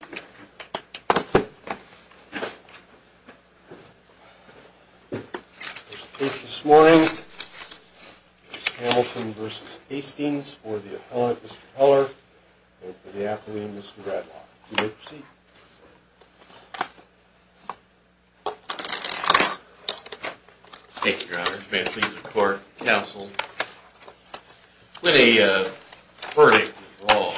This case this morning is Hamilton v. Hastings for the appellant Mr. Heller and for the athlete Mr. Gradlock. You may proceed. Thank you, Your Honor. May it please the court, counsel. When a verdict is wrong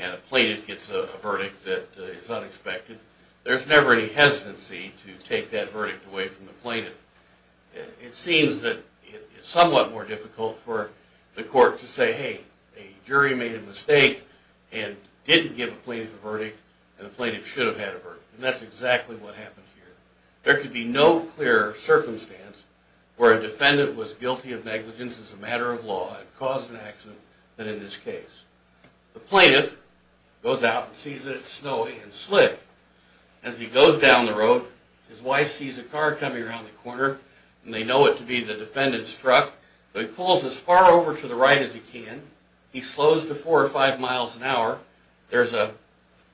and a plaintiff gets a verdict that is unexpected, there's never any hesitancy to take that verdict away from the plaintiff. It seems that it's somewhat more difficult for the court to say, hey, a jury made a mistake and didn't give a plaintiff a verdict and the plaintiff should have had a verdict. And that's exactly what happened here. There could be no clearer circumstance where a defendant was guilty of negligence as a matter of law and caused an accident than in this case. The plaintiff goes out and sees that it's snowing and slick. As he goes down the road, his wife sees a car coming around the corner and they know it to be the defendant's truck. So he pulls as far over to the right as he can. He slows to four or five miles an hour. There's a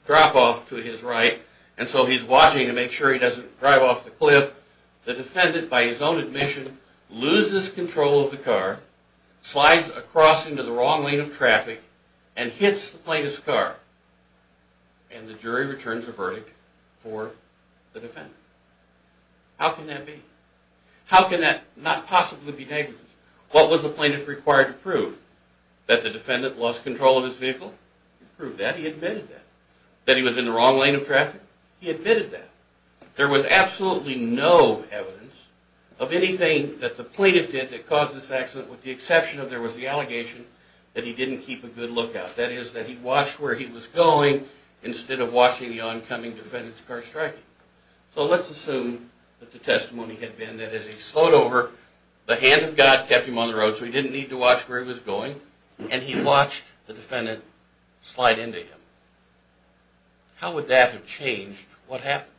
drop-off to his right and so he's watching to make sure he doesn't drive off the cliff. The defendant, by his own admission, loses control of the car, slides across into the wrong lane of traffic, and hits the plaintiff's car. And the jury returns a verdict for the defendant. How can that be? How can that not possibly be negligence? What was the plaintiff required to prove? That the defendant lost control of his vehicle? He proved that. He admitted that. That he was in the wrong lane of traffic? He admitted that. There was absolutely no evidence of anything that the plaintiff did that caused this accident with the exception of there was the allegation that he didn't keep a good lookout. That is that he watched where he was going instead of watching the oncoming defendant's car striking. So let's assume that the testimony had been that as he slowed over, the hand of God kept him on the road so he didn't need to watch where he was going, and he watched the defendant slide into him. How would that have changed what happened?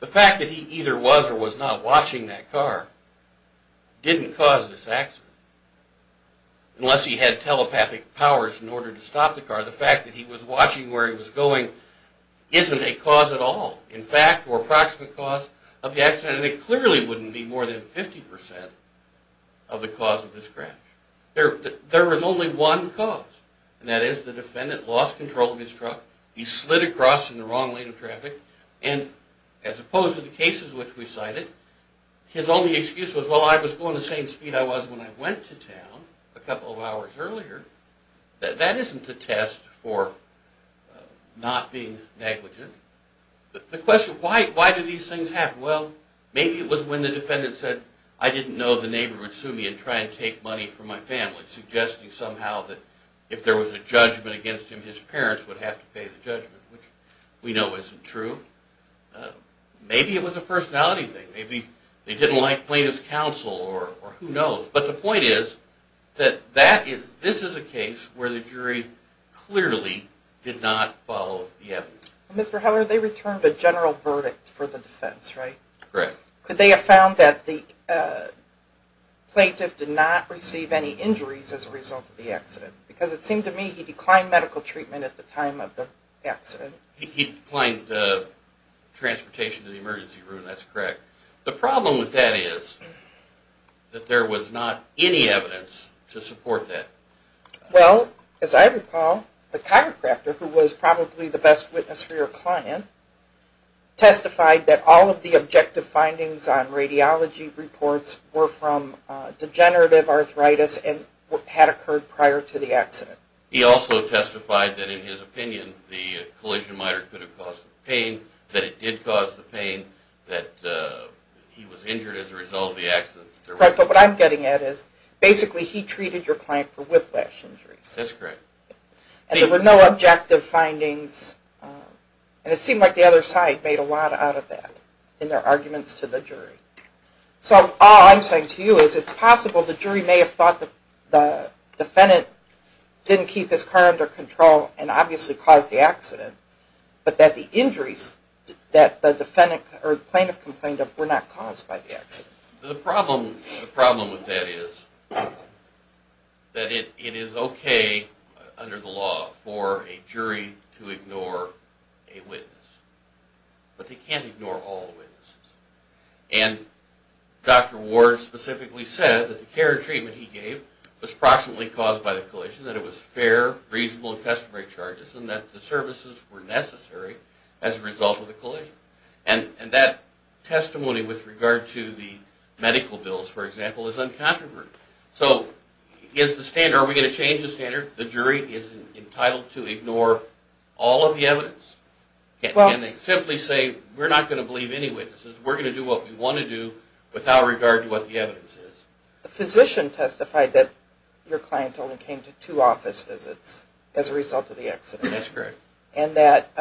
The fact that he either was or was not watching that car didn't cause this accident. Unless he had telepathic powers in order to stop the car, the fact that he was watching where he was going isn't a cause at all. In fact, or approximate cause of the accident, it clearly wouldn't be more than 50% of the cause of the scratch. There was only one cause. And that is the defendant lost control of his truck, he slid across in the wrong lane of traffic, and as opposed to the cases which we cited, his only excuse was, well, I was going the same speed I was when I went to town a couple of hours earlier. That isn't a test for not being negligent. The question, why do these things happen? Well, maybe it was when the defendant said, I didn't know the neighbor would sue me and try and take money from my family, and suggesting somehow that if there was a judgment against him, his parents would have to pay the judgment, which we know isn't true. Maybe it was a personality thing. Maybe they didn't like plaintiff's counsel or who knows. But the point is that this is a case where the jury clearly did not follow the evidence. Mr. Heller, they returned a general verdict for the defense, right? Correct. Could they have found that the plaintiff did not receive any injuries as a result of the accident? Because it seemed to me he declined medical treatment at the time of the accident. He declined transportation to the emergency room, that's correct. The problem with that is that there was not any evidence to support that. Well, as I recall, the chiropractor, who was probably the best witness for your client, testified that all of the objective findings on radiology reports were from degenerative arthritis and had occurred prior to the accident. He also testified that in his opinion the collision miter could have caused the pain, that it did cause the pain, that he was injured as a result of the accident. Correct, but what I'm getting at is basically he treated your client for whiplash injuries. That's correct. There were no objective findings, and it seemed like the other side made a lot out of that in their arguments to the jury. So all I'm saying to you is it's possible the jury may have thought the defendant didn't keep his car under control and obviously caused the accident, but that the injuries that the plaintiff complained of were not caused by the accident. The problem with that is that it is okay under the law for a jury to ignore a witness, but they can't ignore all the witnesses. And Dr. Ward specifically said that the care and treatment he gave was approximately caused by the collision, that it was fair, reasonable, and customary charges, and that the services were necessary as a result of the collision. And that testimony with regard to the medical bills, for example, is uncontroverted. So is the standard, are we going to change the standard? The jury is entitled to ignore all of the evidence? Can they simply say we're not going to believe any witnesses, we're going to do what we want to do without regard to what the evidence is? The physician testified that your client only came to two office visits as a result of the accident. That's correct. And that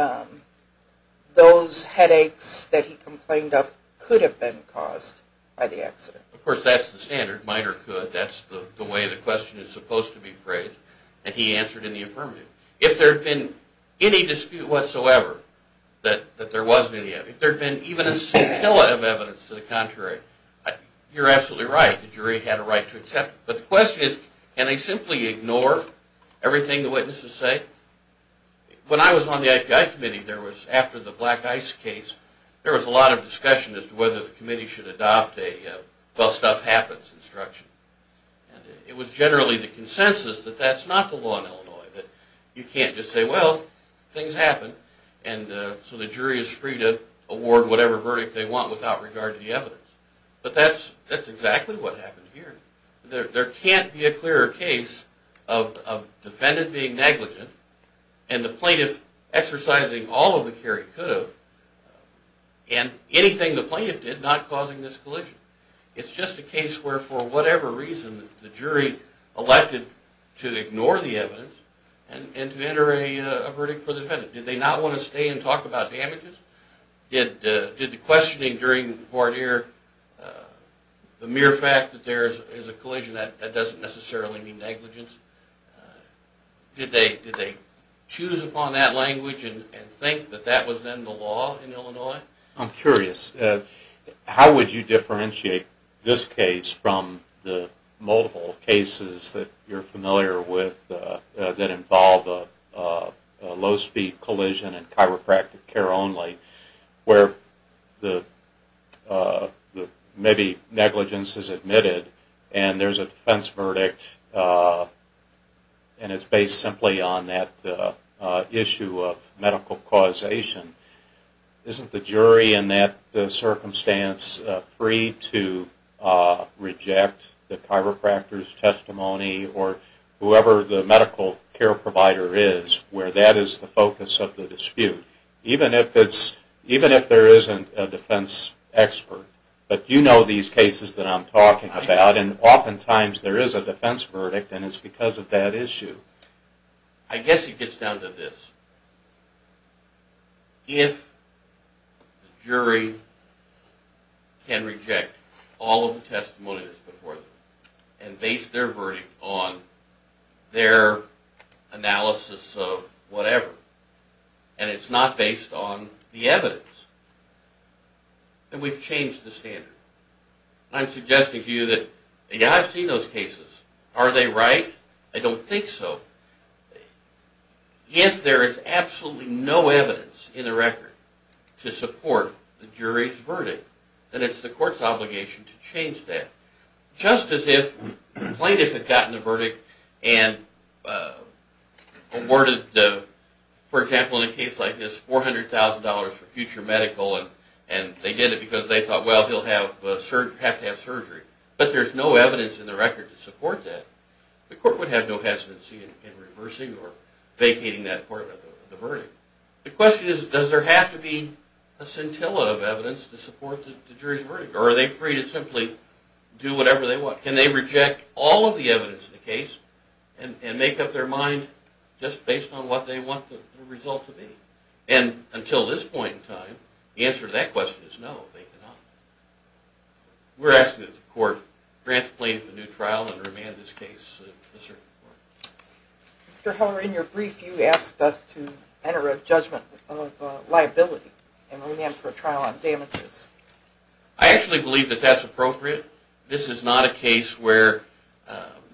those headaches that he complained of could have been caused by the accident. Of course, that's the standard, might or could. That's the way the question is supposed to be phrased, and he answered in the affirmative. If there had been any dispute whatsoever that there wasn't any, if there had been even a scintilla of evidence to the contrary, you're absolutely right, the jury had a right to accept it. But the question is, can they simply ignore everything the witnesses say? When I was on the IPI committee, there was, after the Black Ice case, there was a lot of discussion as to whether the committee should adopt a well, stuff happens instruction. It was generally the consensus that that's not the law in Illinois, that you can't just say, well, things happen, and so the jury is free to award whatever verdict they want without regard to the evidence. But that's exactly what happened here. There can't be a clearer case of defendant being negligent and the plaintiff exercising all of the care he could have and anything the plaintiff did not causing this collision. It's just a case where, for whatever reason, the jury elected to ignore the evidence and to enter a verdict for the defendant. Did they not want to stay and talk about damages? Did the questioning during court here, the mere fact that there is a collision, that doesn't necessarily mean negligence? Did they choose upon that language and think that that was then the law in Illinois? I'm curious. How would you differentiate this case from the multiple cases that you're familiar with that involve a low-speed collision and chiropractic care only, where maybe negligence is admitted and there's a defense verdict and it's based simply on that issue of medical causation? Isn't the jury in that circumstance free to reject the chiropractor's testimony or whoever the medical care provider is where that is the focus of the dispute, even if there isn't a defense expert? But you know these cases that I'm talking about, and oftentimes there is a defense verdict and it's because of that issue. I guess it gets down to this. If the jury can reject all of the testimonies before them and base their verdict on their analysis of whatever, and it's not based on the evidence, then we've changed the standard. I'm suggesting to you that, yeah, I've seen those cases. Are they right? I don't think so. If there is absolutely no evidence in the record to support the jury's verdict, then it's the court's obligation to change that. Just as if the plaintiff had gotten the verdict and awarded, for example, in a case like this $400,000 for future medical and they did it because they thought, well, he'll have to have surgery, but there's no evidence in the record to support that, the court would have no hesitancy in reversing or vacating that part of the verdict. The question is, does there have to be a scintilla of evidence to support the jury's verdict? Or are they free to simply do whatever they want? Can they reject all of the evidence in the case and make up their mind just based on what they want the result to be? And until this point in time, the answer to that question is no, they cannot. We're asking that the court transplant the new trial and remand this case to the circuit court. Mr. Heller, in your brief, you asked us to enter a judgment of liability and remand for a trial on damages. I actually believe that that's appropriate. This is not a case where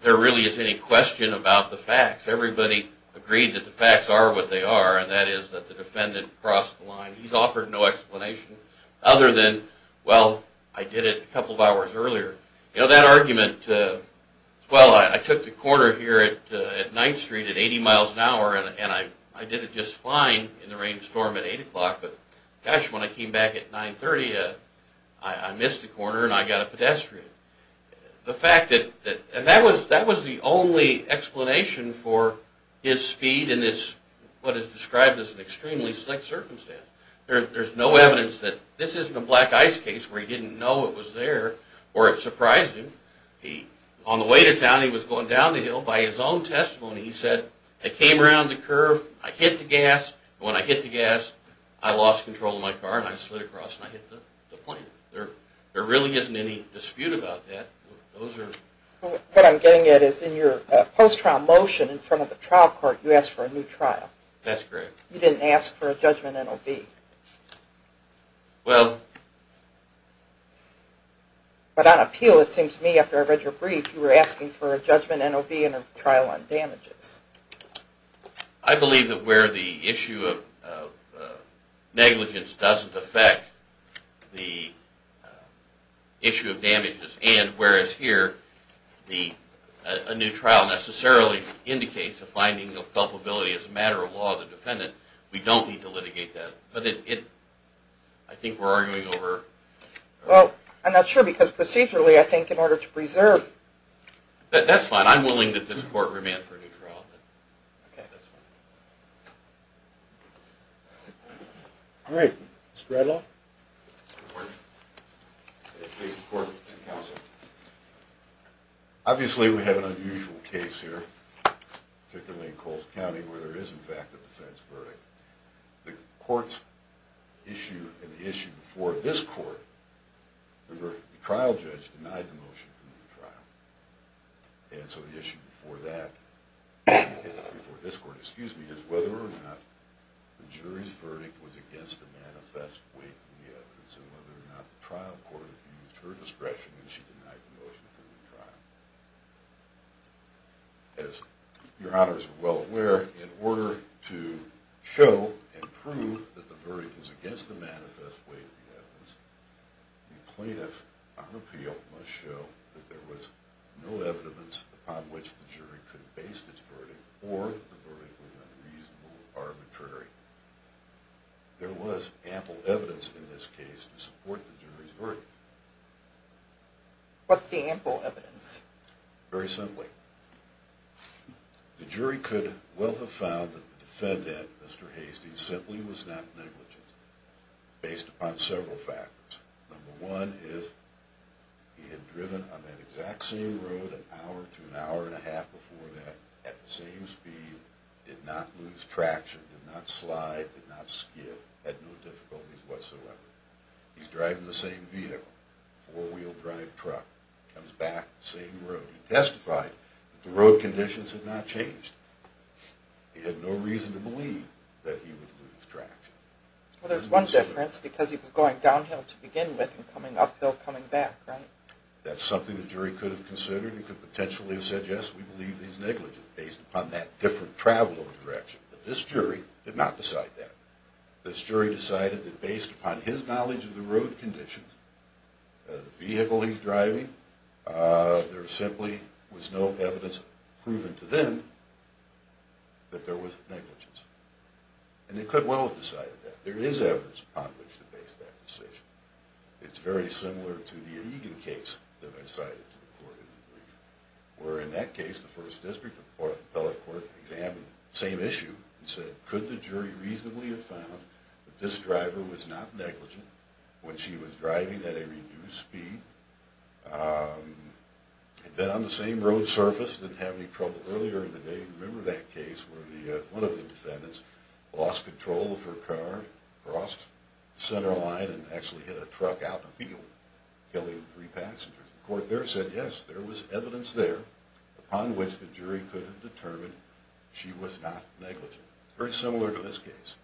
there really is any question about the facts. Everybody agreed that the facts are what they are, and that is that the defendant crossed the line. He's offered no explanation other than, well, I did it a couple of hours earlier. You know, that argument, well, I took the corner here at 9th Street at 80 miles an hour, and I did it just fine in the rainstorm at 8 o'clock, but gosh, when I came back at 9.30, I missed a corner and I got a pedestrian. The fact that, and that was the only explanation for his speed in what is described as an extremely slick circumstance. There's no evidence that this isn't a Black Ice case where he didn't know it was there or it surprised him. On the way to town, he was going down the hill. By his own testimony, he said, I came around the curve, I hit the gas, and when I hit the gas, I lost control of my car and I slid across and I hit the plane. There really isn't any dispute about that. What I'm getting at is in your post-trial motion in front of the trial court, you asked for a new trial. That's correct. You didn't ask for a judgment NOV. Well... But on appeal, it seemed to me after I read your brief, you were asking for a judgment NOV and a trial on damages. I believe that where the issue of negligence doesn't affect the issue of damages and whereas here, a new trial necessarily indicates a finding of culpability as a matter of law of the defendant, we don't need to litigate that. But I think we're arguing over... Well, I'm not sure because procedurally, I think in order to preserve... That's fine. I'm willing that this court remand for a new trial. Okay. All right. Mr. Bradlaugh? Good morning. Case in court, counsel. Obviously, we have an unusual case here, particularly in Coles County, where there is, in fact, a defense verdict. The court's issue and the issue before this court, the trial judge denied the motion for a new trial. And so the issue before that, before this court, excuse me, is whether or not the jury's verdict was against the manifest weight of the evidence and whether or not the trial court used her discretion and she denied the motion for the trial. As your honors are well aware, in order to show and prove that the verdict was against the manifest weight of the evidence, the plaintiff on appeal must show that there was no evidence upon which the jury could have based its verdict or that the verdict was unreasonable or arbitrary. There was ample evidence in this case to support the jury's verdict. What's the ample evidence? Very simply, the jury could well have found that the defendant, Mr. Hastings, simply was not negligent based upon several factors. Number one is he had driven on that exact same road an hour to an hour and a half before that at the same speed, did not lose traction, did not slide, did not skid, had no difficulties whatsoever. He's driving the same vehicle, four-wheel drive truck, comes back the same road. He testified that the road conditions had not changed. He had no reason to believe that he would lose traction. Well, there's one difference because he was going downhill to begin with and coming uphill coming back, right? That's something the jury could have considered. He could potentially have said, yes, we believe he's negligent based upon that different travel of direction. But this jury did not decide that. This jury decided that based upon his knowledge of the road conditions, the vehicle he's driving, there simply was no evidence proven to them that there was negligence. And they could well have decided that. There is evidence upon which to base that decision. It's very similar to the Egan case that I cited to the court in the brief, where in that case the first district appellate court examined the same issue and said, could the jury reasonably have found that this driver was not negligent when she was driving at a reduced speed, had been on the same road surface, didn't have any trouble earlier in the day. You remember that case where one of the defendants lost control of her car, crossed the center line and actually hit a truck out in a field killing three passengers. The court there said, yes, there was evidence there upon which the jury could have determined she was not negligent. It's very similar to this case.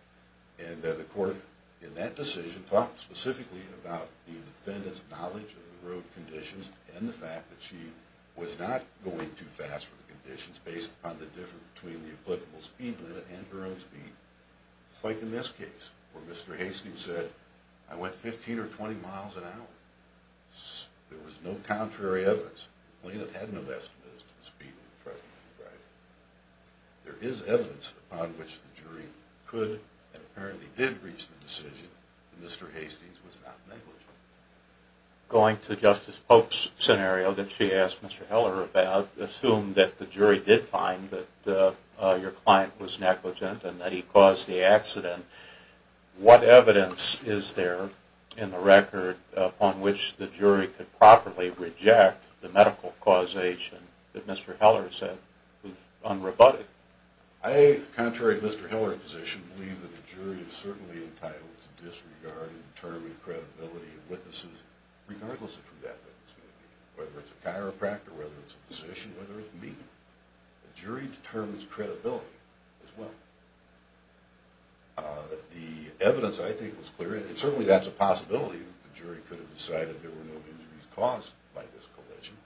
And the court in that decision talked specifically about the defendant's knowledge of the road conditions and the fact that she was not going too fast for the conditions based upon the difference between the applicable speed limit and her own speed. It's like in this case where Mr. Hastings said, I went 15 or 20 miles an hour. There was no contrary evidence. The plaintiff had no estimates as to the speed limit of the driver. There is evidence upon which the jury could and apparently did reach the decision that Mr. Hastings was not negligent. Going to Justice Pope's scenario that she asked Mr. Heller about, assumed that the jury did find that your client was negligent and that he caused the accident. What evidence is there in the record upon which the jury could properly reject the medical causation that Mr. Heller said was unrebutted? I, contrary to Mr. Heller's position, believe that the jury is certainly entitled to disregard and determine credibility of witnesses regardless of who that witness may be, whether it's a chiropractor, whether it's a physician, whether it's me. The jury determines credibility as well. The evidence I think was clear, and certainly that's a possibility, that the jury could have decided there were no injuries caused by this collision.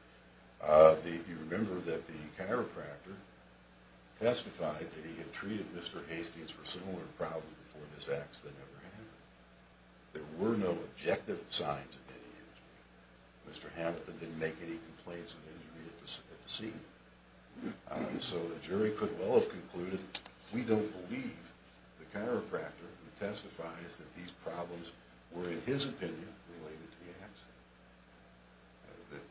You remember that the chiropractor testified that he had treated Mr. Hastings for similar problems before this accident ever happened. There were no objective signs of any injury. Mr. Hamilton didn't make any complaints of injury at the scene. So the jury could well have concluded, we don't believe the chiropractor who testifies that these problems were, in his opinion, related to the accident.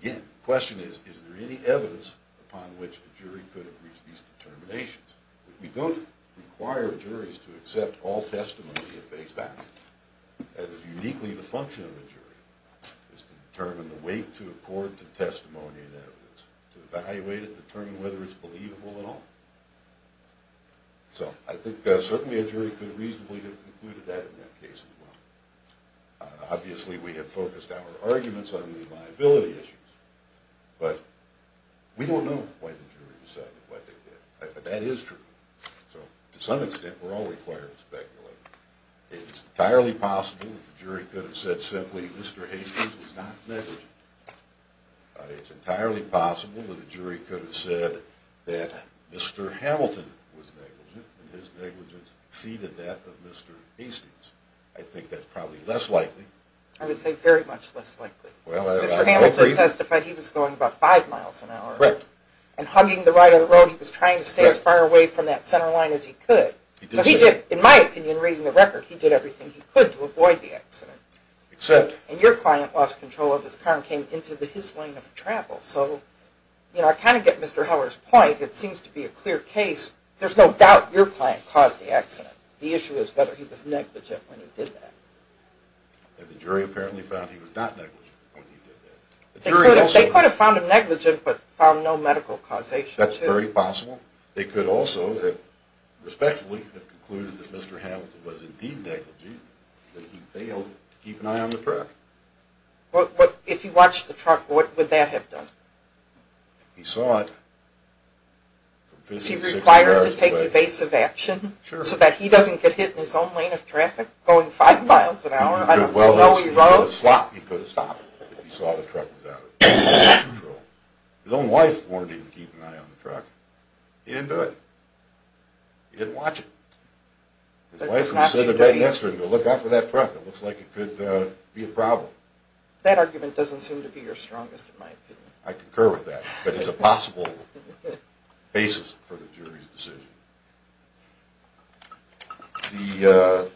Again, the question is, is there any evidence upon which the jury could have reached these determinations? We don't require juries to accept all testimony of base value. That is uniquely the function of a jury, is to determine the weight to accord to testimony and evidence, to evaluate it and determine whether it's believable at all. So I think certainly a jury could reasonably have concluded that in that case as well. Obviously we have focused our arguments on the liability issues, but we don't know why the jury decided what they did. But that is true. So to some extent we're all required to speculate. It's entirely possible that the jury could have said simply, Mr. Hastings is not negligent. It's entirely possible that the jury could have said that Mr. Hamilton was negligent, and his negligence exceeded that of Mr. Hastings. I think that's probably less likely. I would say very much less likely. Mr. Hamilton testified he was going about five miles an hour. Right. And hugging the right of the road, he was trying to stay as far away from that center line as he could. So he did, in my opinion, reading the record, he did everything he could to avoid the accident. Except. And your client lost control of his car and came into the his lane of travel. So, you know, I kind of get Mr. Heller's point. It seems to be a clear case. There's no doubt your client caused the accident. The issue is whether he was negligent when he did that. And the jury apparently found he was not negligent when he did that. They could have found him negligent but found no medical causation. That's very possible. They could also have respectfully concluded that Mr. Hamilton was indeed negligent, but he failed to keep an eye on the truck. If he watched the truck, what would that have done? He saw it from 50 to 60 yards away. He would have required to take evasive action so that he doesn't get hit in his own lane of traffic going five miles an hour. He could have stopped if he saw the truck was out of control. His own wife warned him to keep an eye on the truck. He didn't do it. He didn't watch it. His wife would have said to Greg Nestor, look out for that truck. It looks like it could be a problem. That argument doesn't seem to be your strongest, in my opinion. I concur with that. But it's a possible basis for the jury's decision. The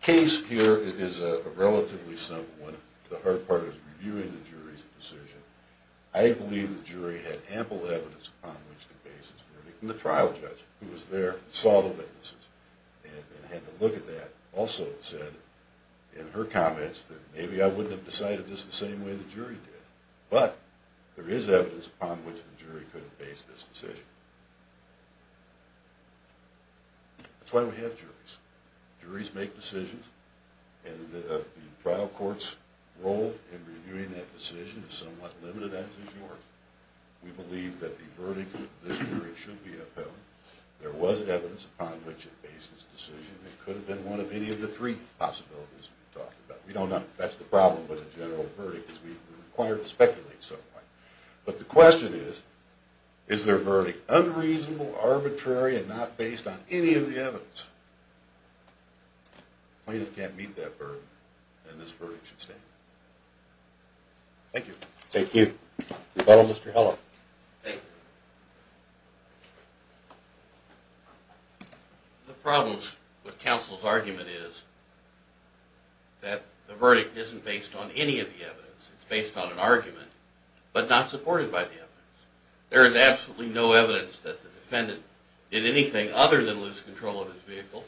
case here is a relatively simple one. The hard part is reviewing the jury's decision. I believe the jury had ample evidence upon which to base its verdict. And the trial judge, who was there and saw the witnesses and had to look at that, also said in her comments that maybe I wouldn't have decided this the same way the jury did. But there is evidence upon which the jury could have based this decision. That's why we have juries. Juries make decisions. And the trial court's role in reviewing that decision is somewhat limited, as is yours. We believe that the verdict of this jury should be upheld. There was evidence upon which it based its decision. It could have been one of any of the three possibilities we talked about. We don't know. That's the problem with a general verdict, is we're required to speculate somewhat. But the question is, is their verdict unreasonable, arbitrary, and not based on any of the evidence? Plaintiffs can't meet that burden, and this verdict should stay. Thank you. Thank you. Fellow Mr. Heller. Thank you. The problem with counsel's argument is that the verdict isn't based on any of the evidence. It's based on an argument, but not supported by the evidence. There is absolutely no evidence that the defendant did anything other than lose control of his vehicle,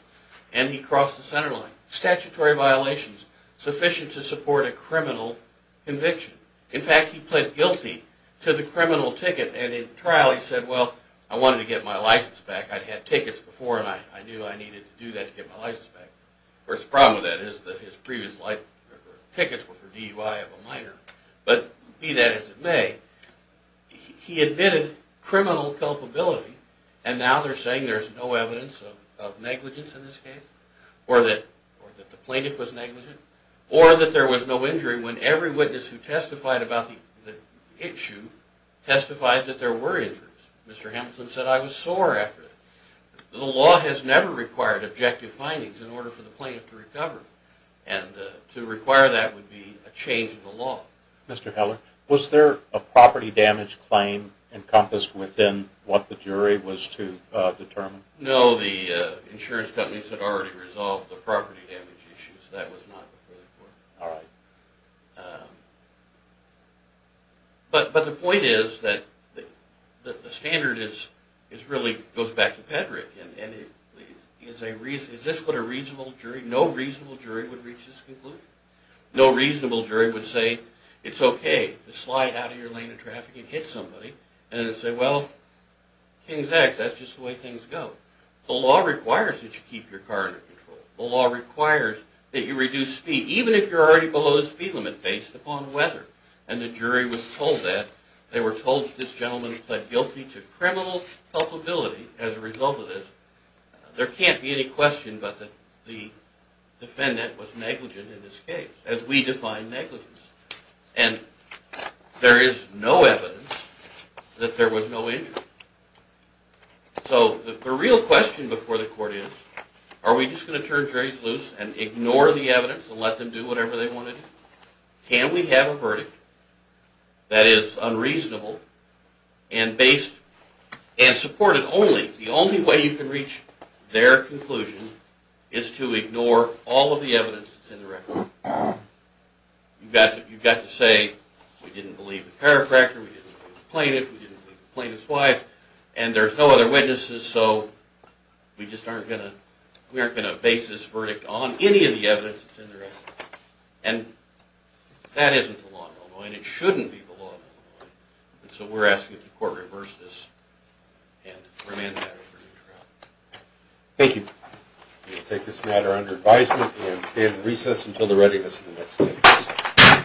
and he crossed the center line. Statutory violations sufficient to support a criminal conviction. In fact, he pled guilty to the criminal ticket, and in trial he said, well, I wanted to get my license back. I'd had tickets before, and I knew I needed to do that to get my license back. Of course, the problem with that is that his previous tickets were for DUI of a minor. But be that as it may, he admitted criminal culpability, and now they're saying there's no evidence of negligence in this case, or that the plaintiff was negligent, or that there was no injury when every witness who testified about the issue testified that there were injuries. Mr. Hamilton said, I was sore after that. The law has never required objective findings in order for the plaintiff to recover, and to require that would be a change in the law. Mr. Heller, was there a property damage claim encompassed within what the jury was to determine? No, the insurance companies had already resolved the property damage issues. That was not before the court. But the point is that the standard really goes back to Pedrick. Is this what a reasonable jury, no reasonable jury would reach this conclusion? No reasonable jury would say, it's okay to slide out of your lane of traffic and hit somebody, and then say, well, King's X, that's just the way things go. The law requires that you keep your car under control. The law requires that you reduce speed, even if you're already below the speed limit, based upon weather. And the jury was told that. They were told that this gentleman pled guilty to criminal culpability as a result of this. There can't be any question but that the defendant was negligent in this case, as we define negligence. And there is no evidence that there was no injury. So the real question before the court is, are we just going to turn juries loose and ignore the evidence and let them do whatever they want to do? Can we have a verdict that is unreasonable and supported only? The only way you can reach their conclusion is to ignore all of the evidence that's in the record. You've got to say, we didn't believe the chiropractor, we didn't believe the plaintiff, we didn't believe the plaintiff's wife, and there's no other witnesses, so we just aren't going to base this verdict on any of the evidence that's in there. And that isn't the law in Illinois, and it shouldn't be the law in Illinois. And so we're asking that the court reverse this and remand that. Thank you. We will take this matter under advisement and stand in recess until the readiness of the next witness.